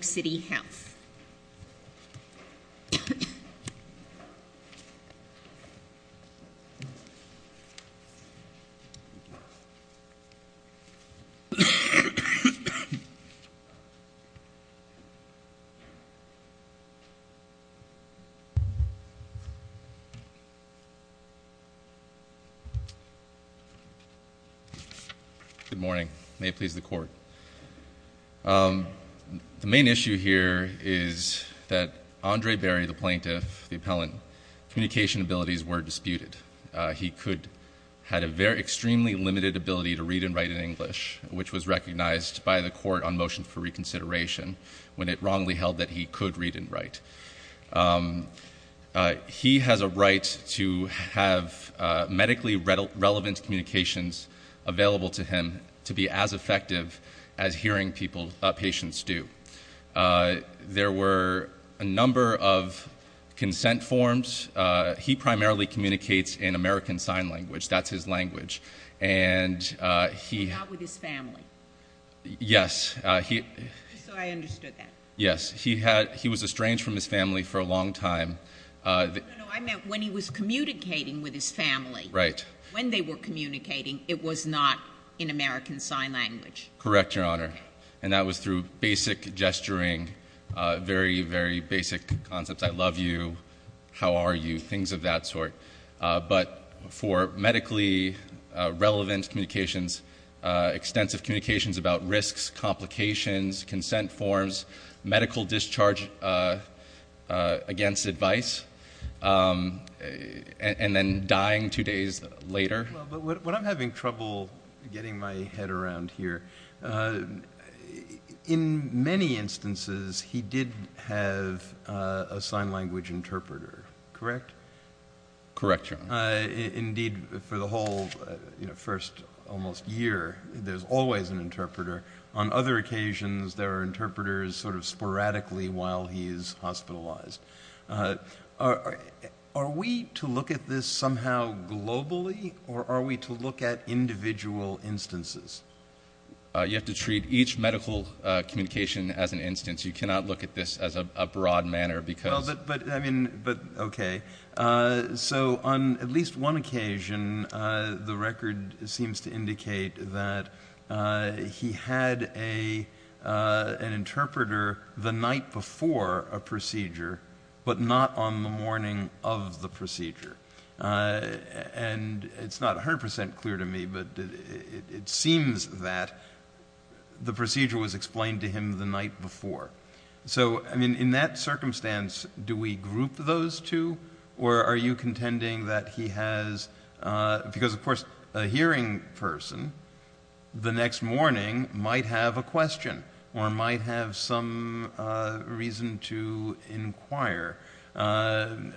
City Health. Good morning. May it please the court. Mary Mays v. New York City Health. Mary Mays v. New York City Health. The main issue here is that Andre Berry, the plaintiff, the appellant, communication abilities were disputed. He had an extremely limited ability to read and write in English, which was recognized by the court on motion for reconsideration, when it wrongly held that he could read and write. He has a right to have medically relevant communications available to him to be as effective as hearing patients do. There were a number of consent forms. He primarily communicates in American Sign Language. That's his language. And he... Not with his family. Yes. So I understood that. Yes. He was estranged from his family for a long time. No, no, no. I meant when he was communicating with his family. Right. When they were communicating, it was not in American Sign Language. Correct, Your Honor. And that was through basic gesturing, very, very basic concepts, I love you, how are you, things of that sort. But for medically relevant communications, extensive communications about risks, complications, consent forms, medical discharge against advice, and then dying two days later. What I'm having trouble getting my head around here, in many instances, he did have a sign language interpreter, correct? Correct, Your Honor. Indeed, for the whole first almost year, there's always an interpreter. On other occasions, there are interpreters sort of sporadically while he is hospitalized. Are we to look at this somehow globally, or are we to look at individual instances? You have to treat each medical communication as an instance. You cannot look at this as a broad manner because... Okay. So on at least one occasion, the record seems to indicate that he had an interpreter the night before a procedure, but not on the morning of the procedure. And it's not 100% clear to me, but it seems that the procedure was explained to him the night before. So, I mean, in that circumstance, do we group those two? Or are you contending that he has... Because, of course, a hearing person, the next morning, might have a question or might have some reason to inquire. And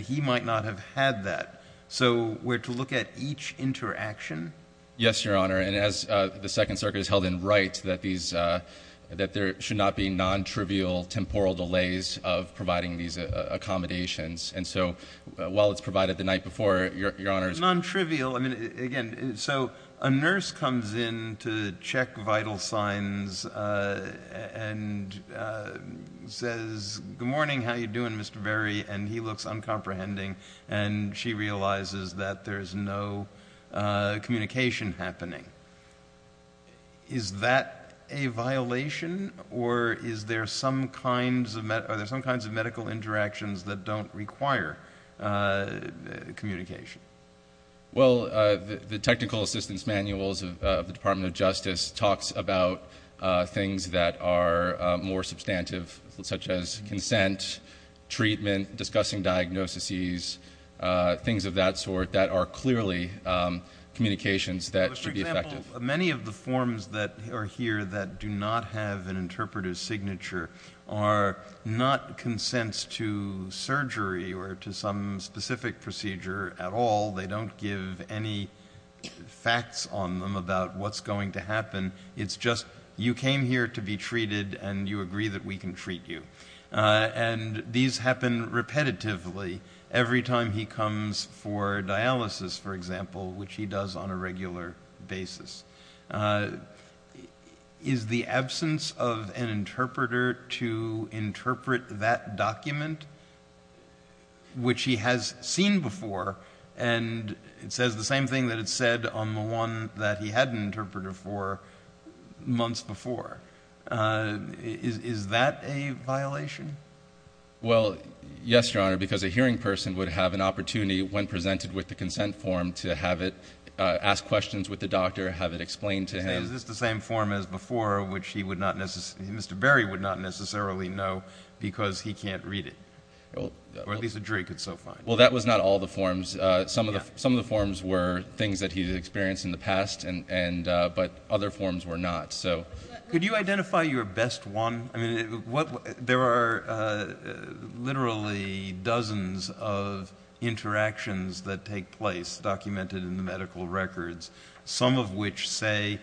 he might not have had that. So we're to look at each interaction? Yes, Your Honor. And as the Second Circuit has held in right that there should not be non-trivial temporal delays of providing these accommodations. And so while it's provided the night before, Your Honor... Non-trivial. I mean, again, so a nurse comes in to check vital signs and says, Good morning, how are you doing, Mr. Berry? And he looks uncomprehending, and she realizes that there's no communication happening. Is that a violation, or are there some kinds of medical interactions that don't require communication? Well, the technical assistance manuals of the Department of Justice talks about things that are more substantive, such as consent, treatment, discussing diagnoses, things of that sort that are clearly communications that should be effective. Well, many of the forms that are here that do not have an interpreter's signature are not consents to surgery or to some specific procedure at all. They don't give any facts on them about what's going to happen. It's just you came here to be treated, and you agree that we can treat you. And these happen repetitively. Every time he comes for dialysis, for example, which he does on a regular basis. Is the absence of an interpreter to interpret that document, which he has seen before, and it says the same thing that it said on the one that he had an interpreter for months before. Is that a violation? Well, yes, Your Honor, because a hearing person would have an opportunity when presented with the consent form to have it, ask questions with the doctor, have it explained to him. Is this the same form as before, which Mr. Berry would not necessarily know because he can't read it? Or at least a jury could so find it. Well, that was not all the forms. Some of the forms were things that he had experienced in the past, but other forms were not. Could you identify your best one? There are literally dozens of interactions that take place documented in the medical records, some of which say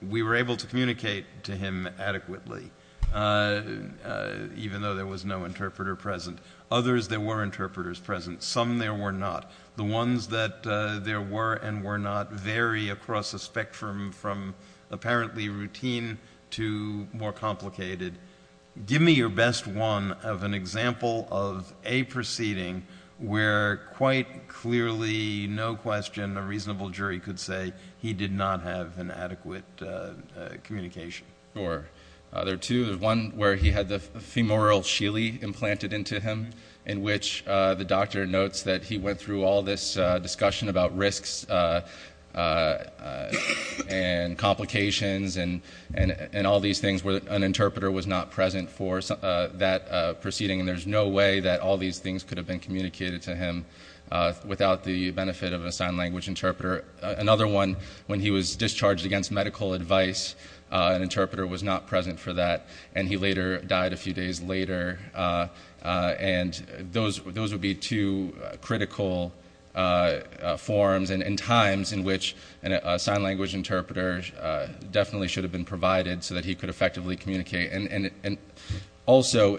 we were able to communicate to him adequately, even though there was no interpreter present. Others, there were interpreters present. Some there were not. The ones that there were and were not vary across a spectrum from apparently routine to more complicated. Give me your best one of an example of a proceeding where quite clearly, no question, a reasonable jury could say he did not have an adequate communication. Sure. There are two. There's one where he had the femoral Sheely implanted into him, in which the doctor notes that he went through all this discussion about risks and complications and all these things where an interpreter was not present for that proceeding, and there's no way that all these things could have been communicated to him without the benefit of a sign language interpreter. Another one, when he was discharged against medical advice, an interpreter was not present for that, and he later died a few days later. And those would be two critical forms and times in which a sign language interpreter definitely should have been provided so that he could effectively communicate. Also,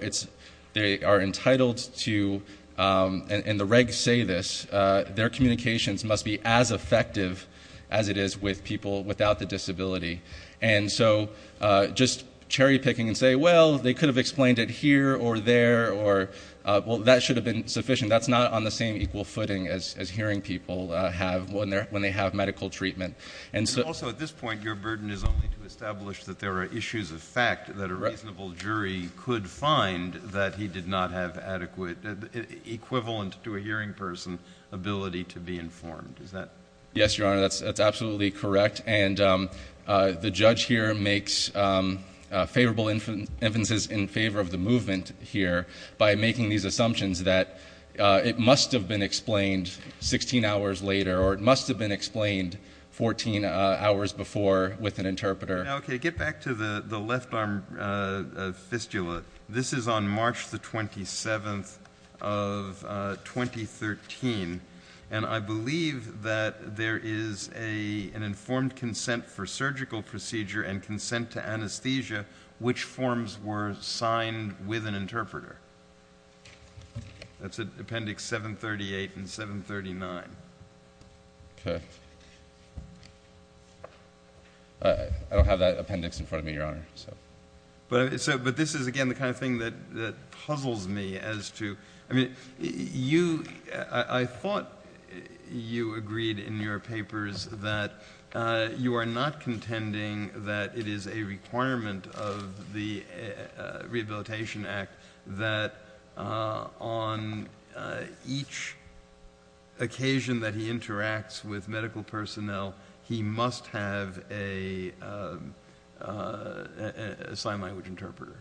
they are entitled to, and the regs say this, their communications must be as effective as it is with people without the disability. And so just cherry picking and saying, well, they could have explained it here or there, well, that should have been sufficient. That's not on the same equal footing as hearing people have when they have medical treatment. Also, at this point, your burden is only to establish that there are issues of fact, that a reasonable jury could find that he did not have adequate, equivalent to a hearing person, ability to be informed. Yes, Your Honor, that's absolutely correct. And the judge here makes favorable inferences in favor of the movement here by making these assumptions that it must have been explained 16 hours later or it must have been explained 14 hours before with an interpreter. Okay, get back to the left arm fistula. This is on March the 27th of 2013, and I believe that there is an informed consent for surgical procedure and consent to anesthesia, which forms were signed with an interpreter. That's Appendix 738 and 739. Okay. I don't have that appendix in front of me, Your Honor. But this is, again, the kind of thing that puzzles me as to, I mean, you, I thought you agreed in your papers that you are not contending that it is a requirement of the Rehabilitation Act that on each occasion that he interacts with medical personnel, he must have a sign language interpreter.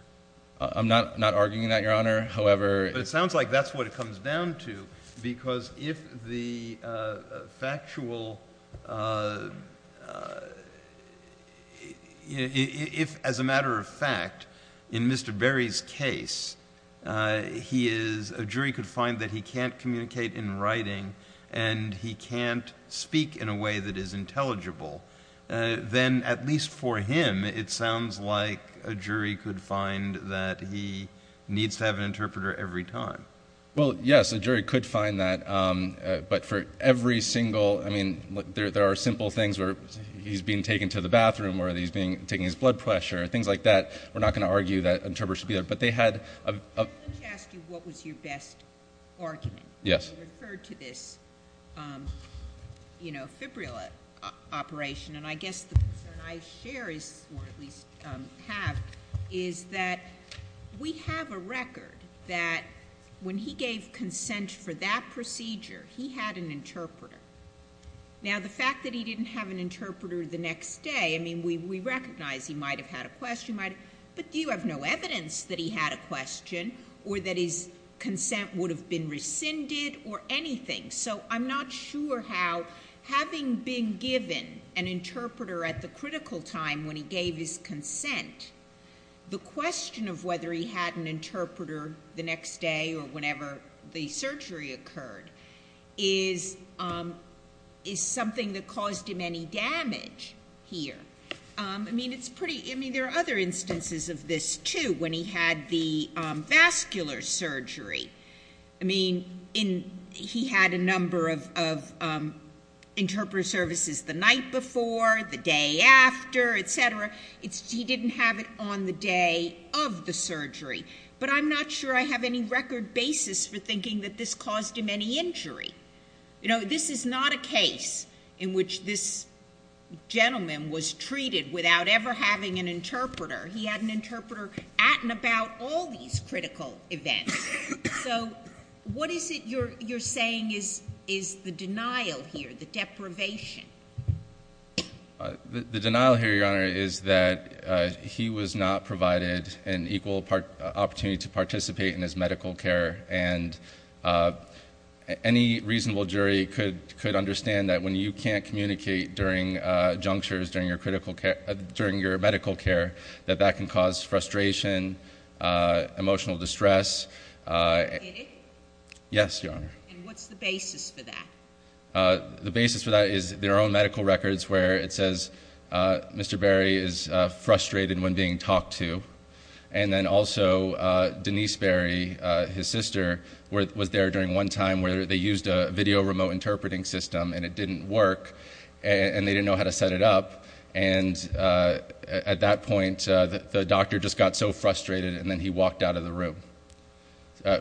I'm not arguing that, Your Honor. However, it sounds like that's what it comes down to because if the factual, if, as a matter of fact, in Mr. Berry's case, a jury could find that he can't communicate in writing and he can't speak in a way that is intelligible, then at least for him, it sounds like a jury could find that he needs to have an interpreter every time. Well, yes, a jury could find that, but for every single, I mean, there are simple things where he's being taken to the bathroom or he's taking his blood pressure, things like that. We're not going to argue that an interpreter should be there, but they had a- Let me ask you what was your best argument when you referred to this, you know, fibrilla operation, and I guess the concern I share is, or at least have, is that we have a record that when he gave consent for that procedure, he had an interpreter. Now, the fact that he didn't have an interpreter the next day, I mean, we recognize he might have had a question, but you have no evidence that he had a question or that his consent would have been rescinded or anything. So I'm not sure how having been given an interpreter at the critical time when he gave his consent, the question of whether he had an interpreter the next day or whenever the surgery occurred is something that caused him any damage here. I mean, it's pretty- I mean, there are other instances of this, too. When he had the vascular surgery, I mean, he had a number of interpreter services the night before, the day after, et cetera. He didn't have it on the day of the surgery. But I'm not sure I have any record basis for thinking that this caused him any injury. You know, this is not a case in which this gentleman was treated without ever having an interpreter. He had an interpreter at and about all these critical events. So what is it you're saying is the denial here, the deprivation? The denial here, Your Honor, is that he was not provided an equal opportunity to participate in his medical care, and any reasonable jury could understand that when you can't communicate during junctures, during your medical care, that that can cause frustration, emotional distress. Did it? Yes, Your Honor. And what's the basis for that? The basis for that is their own medical records where it says Mr. Berry is frustrated when being talked to, and then also Denise Berry, his sister, was there during one time where they used a video remote interpreting system and it didn't work and they didn't know how to set it up, and at that point the doctor just got so frustrated and then he walked out of the room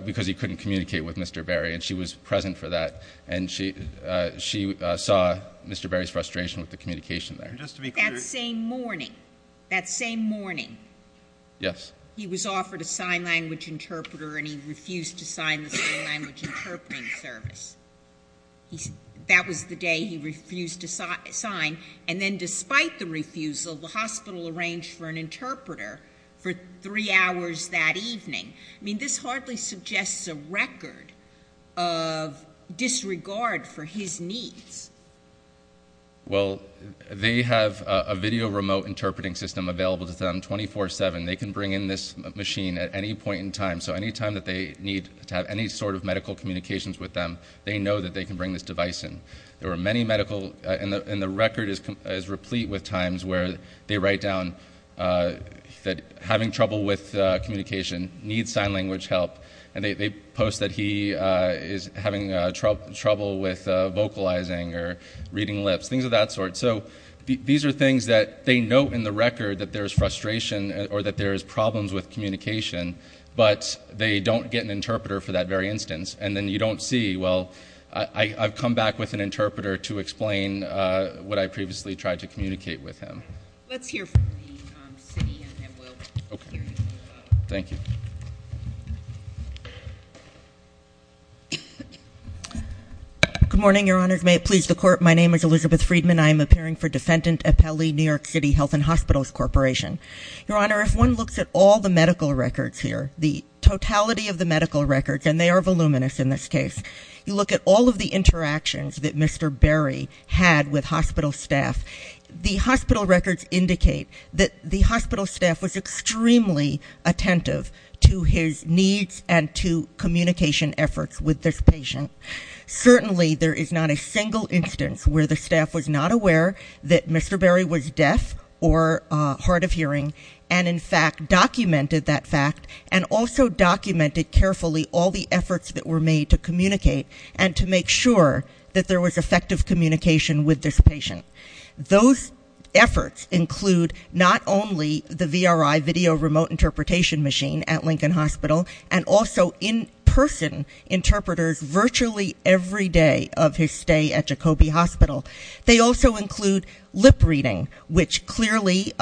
because he couldn't communicate with Mr. Berry, and she was present for that, and she saw Mr. Berry's frustration with the communication there. Just to be clear. That same morning, that same morning, he was offered a sign language interpreter and he refused to sign the sign language interpreting service. That was the day he refused to sign, and then despite the refusal, the hospital arranged for an interpreter for three hours that evening. I mean, this hardly suggests a record of disregard for his needs. Well, they have a video remote interpreting system available to them 24-7. They can bring in this machine at any point in time, so any time that they need to have any sort of medical communications with them, they know that they can bring this device in. There are many medical, and the record is replete with times where they write down that having trouble with communication, need sign language help, and they post that he is having trouble with vocalizing or reading lips, things of that sort. So these are things that they note in the record that there is frustration or that there is problems with communication, but they don't get an interpreter for that very instance. And then you don't see, well, I've come back with an interpreter to explain what I previously tried to communicate with him. Let's hear from the city and then we'll hear you. Okay. Thank you. Good morning, Your Honors. May it please the court, my name is Elizabeth Friedman. And I am appearing for defendant appellee, New York City Health and Hospitals Corporation. Your Honor, if one looks at all the medical records here, the totality of the medical records, and they are voluminous in this case, you look at all of the interactions that Mr. Berry had with hospital staff, the hospital records indicate that the hospital staff was extremely attentive to his needs and to communication efforts with this patient. Certainly there is not a single instance where the staff was not aware that Mr. Berry was deaf or hard of hearing and in fact documented that fact and also documented carefully all the efforts that were made to communicate and to make sure that there was effective communication with this patient. Those efforts include not only the VRI, Video Remote Interpretation Machine, at Lincoln Hospital, and also in-person interpreters virtually every day of his stay at Jacoby Hospital. They also include lip reading, which clearly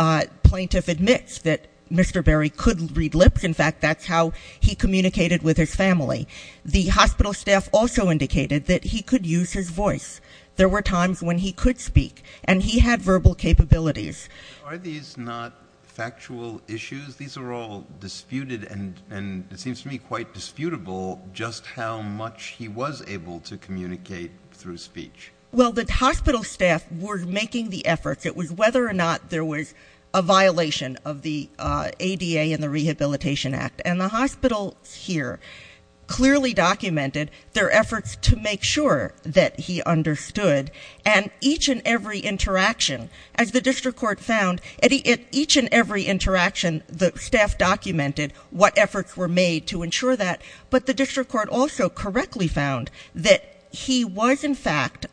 plaintiff admits that Mr. Berry could read lips. In fact, that's how he communicated with his family. The hospital staff also indicated that he could use his voice. There were times when he could speak and he had verbal capabilities. Are these not factual issues? These are all disputed and it seems to me quite disputable just how much he was able to communicate through speech. Well, the hospital staff were making the efforts. It was whether or not there was a violation of the ADA and the Rehabilitation Act, and the hospitals here clearly documented their efforts to make sure that he understood, and each and every interaction, as the district court found, at each and every interaction the staff documented what efforts were made to ensure that, but the district court also correctly found that he was, in fact,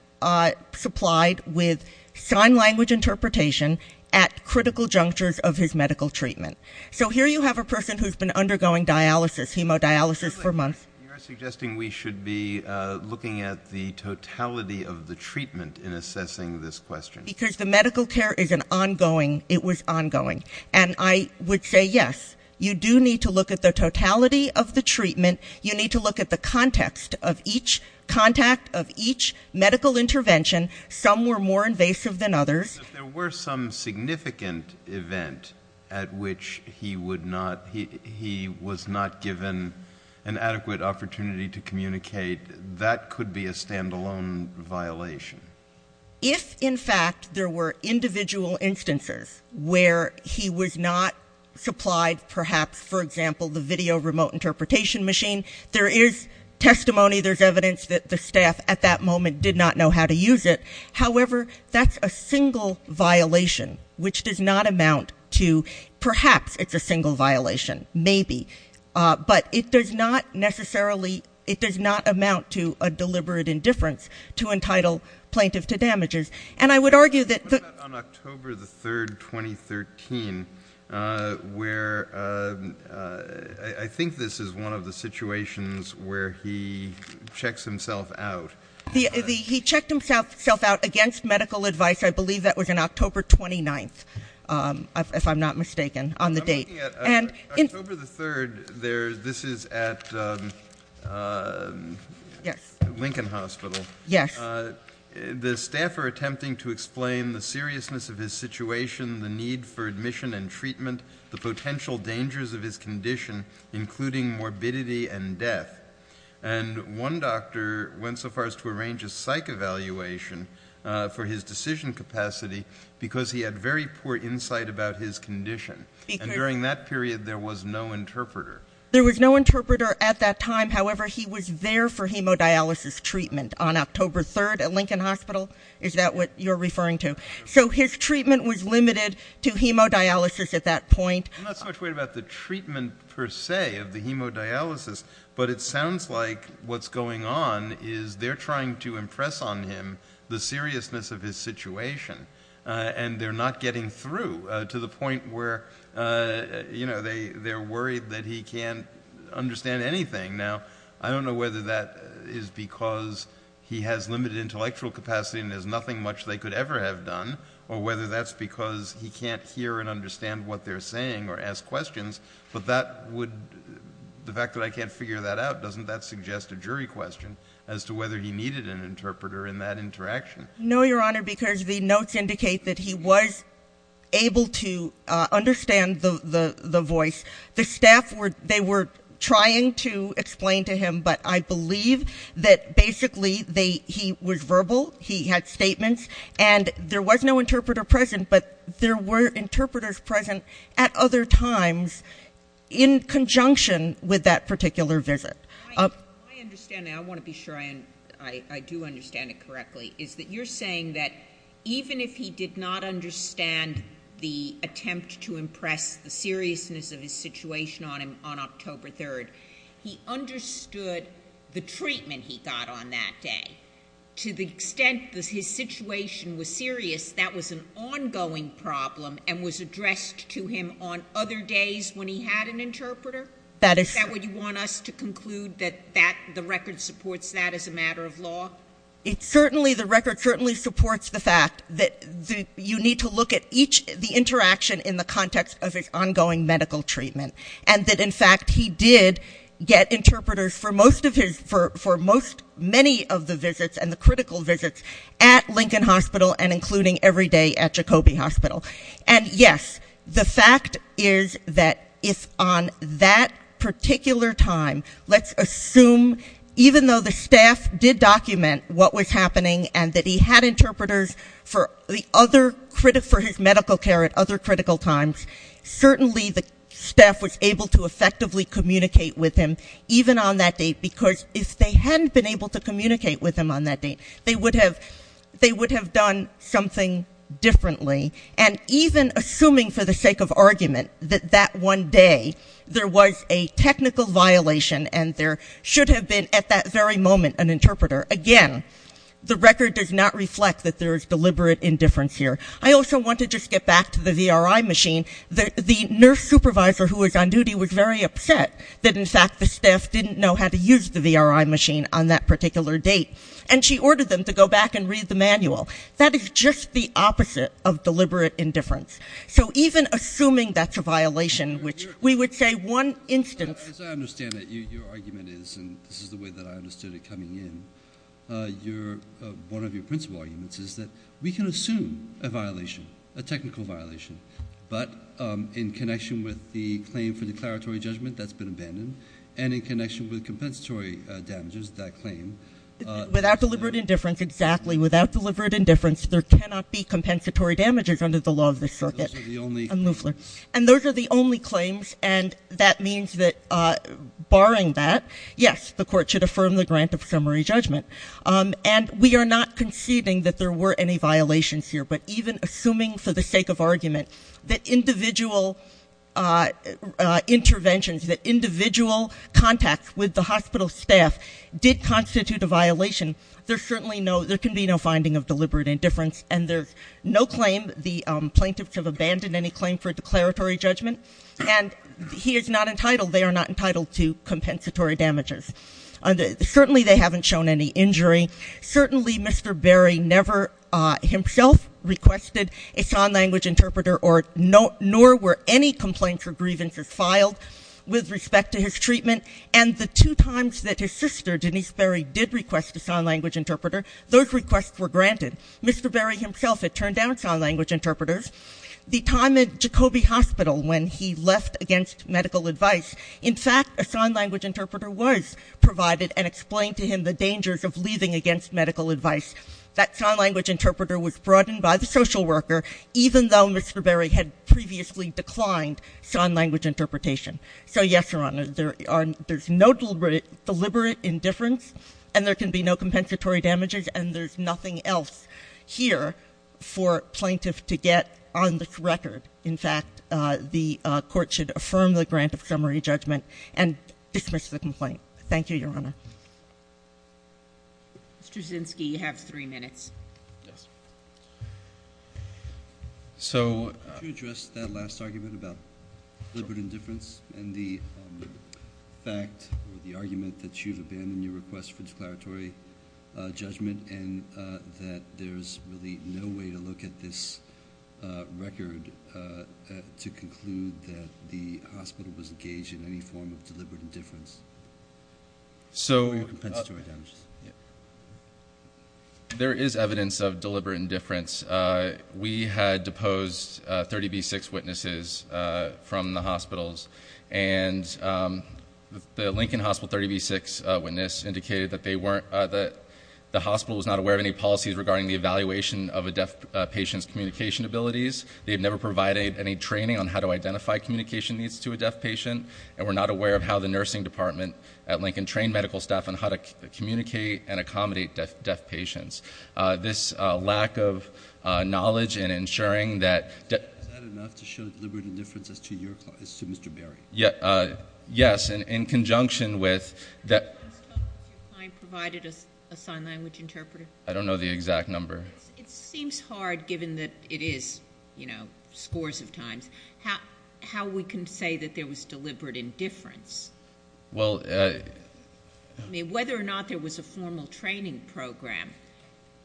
supplied with sign language interpretation at critical junctures of his medical treatment. So here you have a person who's been undergoing dialysis, hemodialysis, for months. You are suggesting we should be looking at the totality of the treatment in assessing this question. Because the medical care is an ongoing, it was ongoing. And I would say yes, you do need to look at the totality of the treatment. You need to look at the context of each contact, of each medical intervention. Some were more invasive than others. If there were some significant event at which he would not, he was not given an adequate opportunity to communicate, that could be a stand-alone violation. If, in fact, there were individual instances where he was not supplied, perhaps, for example, the video remote interpretation machine, there is testimony, there's evidence that the staff at that moment did not know how to use it. However, that's a single violation, which does not amount to, perhaps, it's a single violation. Maybe. But it does not necessarily, it does not amount to a deliberate indifference to entitle plaintiff to damages. And I would argue that the... On October the 3rd, 2013, where, I think this is one of the situations where he checks himself out. He checked himself out against medical advice. I believe that was on October 29th, if I'm not mistaken, on the date. I'm looking at October the 3rd. This is at Lincoln Hospital. Yes. The staff are attempting to explain the seriousness of his situation, the need for admission and treatment, the potential dangers of his condition, including morbidity and death. And one doctor went so far as to arrange a psych evaluation for his decision capacity because he had very poor insight about his condition. And during that period, there was no interpreter. There was no interpreter at that time. However, he was there for hemodialysis treatment on October 3rd at Lincoln Hospital. Is that what you're referring to? So his treatment was limited to hemodialysis at that point. I'm not so much worried about the treatment per se of the hemodialysis, but it sounds like what's going on is they're trying to impress on him the seriousness of his situation, and they're not getting through to the point where they're worried that he can't understand anything. Now, I don't know whether that is because he has limited intellectual capacity and there's nothing much they could ever have done or whether that's because he can't hear and understand what they're saying or ask questions, but the fact that I can't figure that out, doesn't that suggest a jury question as to whether he needed an interpreter in that interaction? No, Your Honor, because the notes indicate that he was able to understand the voice. The staff, they were trying to explain to him, but I believe that basically he was verbal, he had statements, and there was no interpreter present, but there were interpreters present at other times in conjunction with that particular visit. My understanding, I want to be sure I do understand it correctly, is that you're saying that even if he did not understand the attempt to impress the seriousness of his situation on him on October 3rd, he understood the treatment he got on that day to the extent that his situation was serious, that was an ongoing problem and was addressed to him on other days when he had an interpreter? Is that what you want us to conclude, that the record supports that as a matter of law? It certainly, the record certainly supports the fact that you need to look at each, the interaction in the context of his ongoing medical treatment and that in fact he did get interpreters for most of his, for many of the visits and the critical visits at Lincoln Hospital and including every day at Jacoby Hospital. And yes, the fact is that if on that particular time, let's assume even though the staff did document what was happening and that he had interpreters for his medical care at other critical times, certainly the staff was able to effectively communicate with him even on that date because if they hadn't been able to communicate with him on that date, they would have, they would have done something differently. And even assuming for the sake of argument that that one day there was a technical violation and there should have been at that very moment an interpreter, again, the record does not reflect that there is deliberate indifference here. I also want to just get back to the VRI machine. The nurse supervisor who was on duty was very upset that in fact the staff didn't know how to use the VRI machine on that particular date. And she ordered them to go back and read the manual. That is just the opposite of deliberate indifference. So even assuming that's a violation, which we would say one instance. As I understand it, your argument is, and this is the way that I understood it coming in, one of your principal arguments is that we can assume a violation, a technical violation, but in connection with the claim for declaratory judgment that's been abandoned and in connection with compensatory damages, that claim. Without deliberate indifference, exactly, without deliberate indifference, there cannot be compensatory damages under the law of the circuit. And those are the only claims. And that means that barring that, yes, the court should affirm the grant of summary judgment. And we are not conceding that there were any violations here. But even assuming for the sake of argument that individual interventions, that individual contacts with the hospital staff did constitute a violation, there certainly can be no finding of deliberate indifference. And there's no claim, the plaintiffs have abandoned any claim for declaratory judgment. And he is not entitled, they are not entitled to compensatory damages. Certainly they haven't shown any injury. Certainly Mr. Berry never himself requested a sign language interpreter nor were any complaints or grievances filed with respect to his treatment. And the two times that his sister, Denise Berry, did request a sign language interpreter, those requests were granted. Mr. Berry himself had turned down sign language interpreters. The time at Jacoby Hospital when he left against medical advice, in fact a sign language interpreter was provided and explained to him the dangers of leaving against medical advice. That sign language interpreter was brought in by the social worker, even though Mr. Berry had previously declined sign language interpretation. So yes, Your Honor, there's no deliberate indifference and there can be no compensatory damages and there's nothing else here for plaintiff to get on this record. In fact, the court should affirm the grant of summary judgment and dismiss the complaint. Thank you, Your Honor. Ms. Brzezinski, you have three minutes. Yes. So to address that last argument about deliberate indifference and the fact or the argument that you've abandoned your request for declaratory judgment and that there's really no way to look at this record to conclude that the hospital was engaged in any form of deliberate indifference or compensatory damages. There is evidence of deliberate indifference. We had deposed 30B6 witnesses from the hospitals and the Lincoln Hospital 30B6 witness indicated that the hospital was not aware of any policies regarding the evaluation of a deaf patient's communication abilities. They had never provided any training on how to identify communication needs to a deaf patient and were not aware of how the nursing department at Lincoln trained medical staff on how to communicate and accommodate deaf patients. This lack of knowledge in ensuring that... Is that enough to show deliberate indifference as to Mr. Berry? Yes. In conjunction with... Has your client provided a sign language interpreter? I don't know the exact number. It seems hard given that it is scores of times. How we can say that there was deliberate indifference? Well... I mean, whether or not there was a formal training program,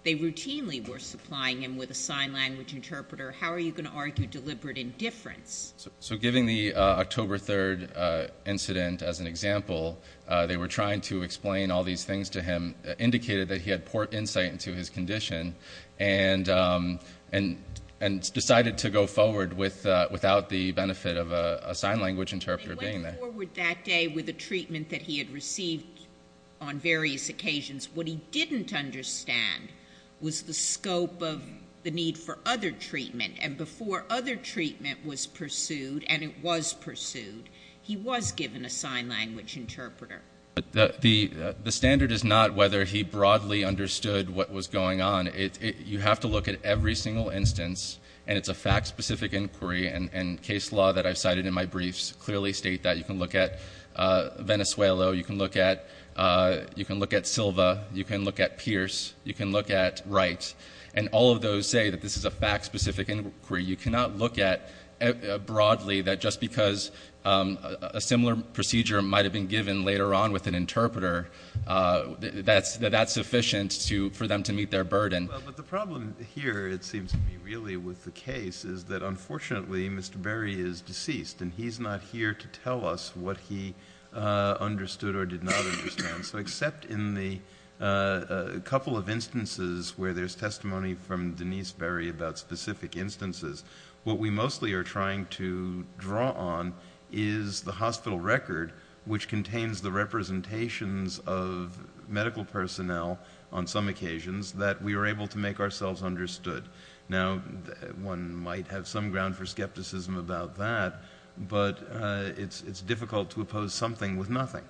they routinely were supplying him with a sign language interpreter. How are you going to argue deliberate indifference? So giving the October 3 incident as an example, they were trying to explain all these things to him, indicated that he had poor insight into his condition, and decided to go forward without the benefit of a sign language interpreter being there. He went forward that day with a treatment that he had received on various occasions. What he didn't understand was the scope of the need for other treatment, and before other treatment was pursued, and it was pursued, he was given a sign language interpreter. The standard is not whether he broadly understood what was going on. You have to look at every single instance, and it's a fact-specific inquiry, and case law that I've cited in my briefs clearly state that. You can look at Venezuela. You can look at Silva. You can look at Pierce. You can look at Wright. And all of those say that this is a fact-specific inquiry. You cannot look at broadly that just because a similar procedure might have been given later on with an interpreter, that that's sufficient for them to meet their burden. But the problem here, it seems to me, really with the case is that, unfortunately, Mr. Berry is deceased, and he's not here to tell us what he understood or did not understand. So except in the couple of instances where there's testimony from Denise Berry about specific instances, what we mostly are trying to draw on is the hospital record, which contains the representations of medical personnel on some occasions that we were able to make ourselves understood. Now, one might have some ground for skepticism about that, but it's difficult to oppose something with nothing.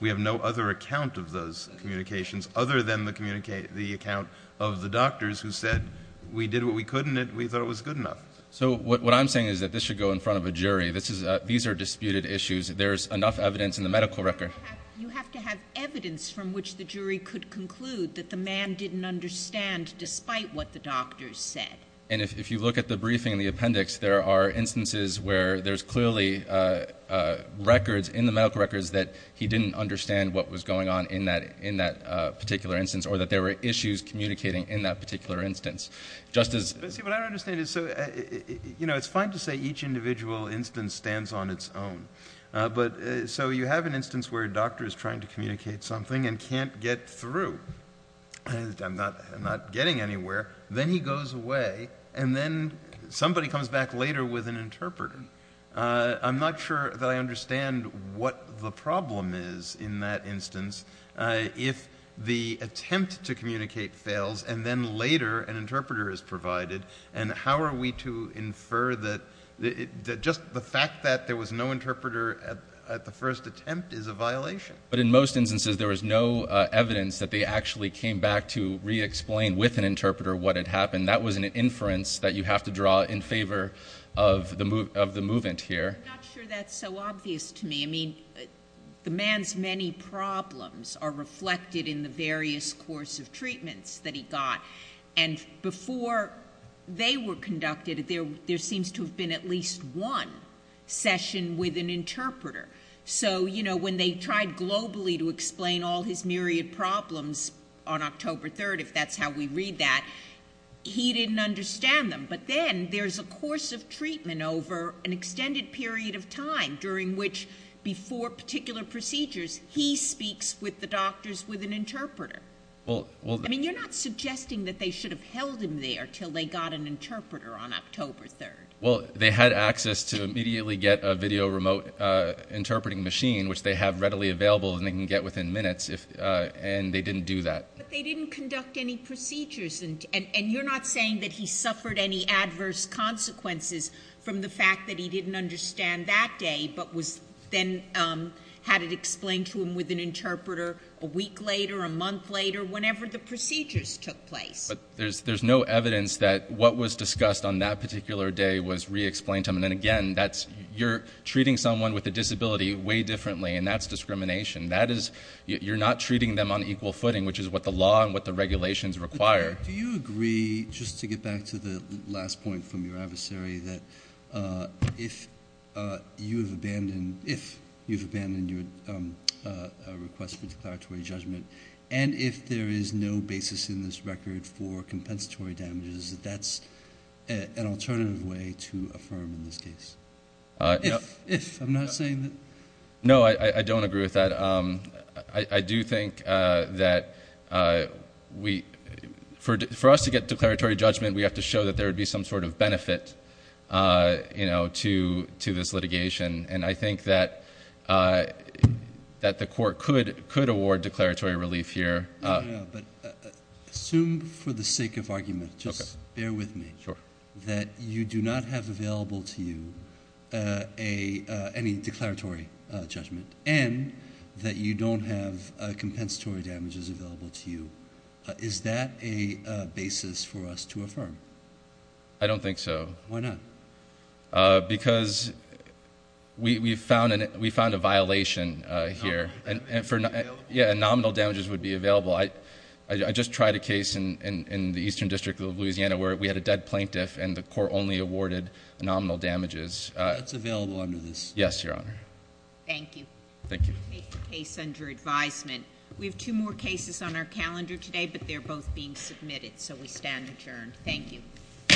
We have no other account of those communications other than the account of the doctors who said, we did what we could, and we thought it was good enough. So what I'm saying is that this should go in front of a jury. These are disputed issues. There's enough evidence in the medical record. You have to have evidence from which the jury could conclude that the man didn't understand, despite what the doctors said. And if you look at the briefing and the appendix, there are instances where there's clearly records in the medical records that he didn't understand what was going on in that particular instance or that there were issues communicating in that particular instance. See, what I don't understand is, you know, it's fine to say each individual instance stands on its own. So you have an instance where a doctor is trying to communicate something and can't get through. I'm not getting anywhere. Then he goes away, and then somebody comes back later with an interpreter. I'm not sure that I understand what the problem is in that instance if the attempt to communicate fails and then later an interpreter is provided, and how are we to infer that just the fact that there was no interpreter at the first attempt is a violation? But in most instances, there was no evidence that they actually came back to re-explain with an interpreter what had happened. That was an inference that you have to draw in favor of the movement here. I'm not sure that's so obvious to me. I mean, the man's many problems are reflected in the various course of treatments that he got. And before they were conducted, there seems to have been at least one session with an interpreter. So, you know, when they tried globally to explain all his myriad problems on October 3rd, if that's how we read that, he didn't understand them. But then there's a course of treatment over an extended period of time during which before particular procedures, he speaks with the doctors with an interpreter. I mean, you're not suggesting that they should have held him there until they got an interpreter on October 3rd. Well, they had access to immediately get a video remote interpreting machine, which they have readily available and they can get within minutes, and they didn't do that. But they didn't conduct any procedures, and you're not saying that he suffered any adverse consequences from the fact that he didn't understand that day but then had it explained to him with an interpreter a week later, a month later, whenever the procedures took place. But there's no evidence that what was discussed on that particular day was re-explained to him. And again, you're treating someone with a disability way differently, and that's discrimination. You're not treating them on equal footing, which is what the law and what the regulations require. Do you agree, just to get back to the last point from your adversary, that if you've abandoned your request for declaratory judgment and if there is no basis in this record for compensatory damages, that that's an alternative way to affirm in this case? If, I'm not saying that. No, I don't agree with that. I do think that for us to get declaratory judgment, we have to show that there would be some sort of benefit to this litigation. And I think that the court could award declaratory relief here. But assume for the sake of argument, just bear with me, that you do not have available to you any declaratory judgment and that you don't have compensatory damages available to you. Is that a basis for us to affirm? I don't think so. Why not? Because we found a violation here. Nominal damages would be available? Yeah, nominal damages would be available. I just tried a case in the Eastern District of Louisiana where we had a dead plaintiff and the court only awarded nominal damages. That's available under this? Yes, Your Honor. Thank you. Thank you. Case under advisement. We have two more cases on our calendar today, but they're both being submitted, so we stand adjourned. Thank you. Court is adjourned.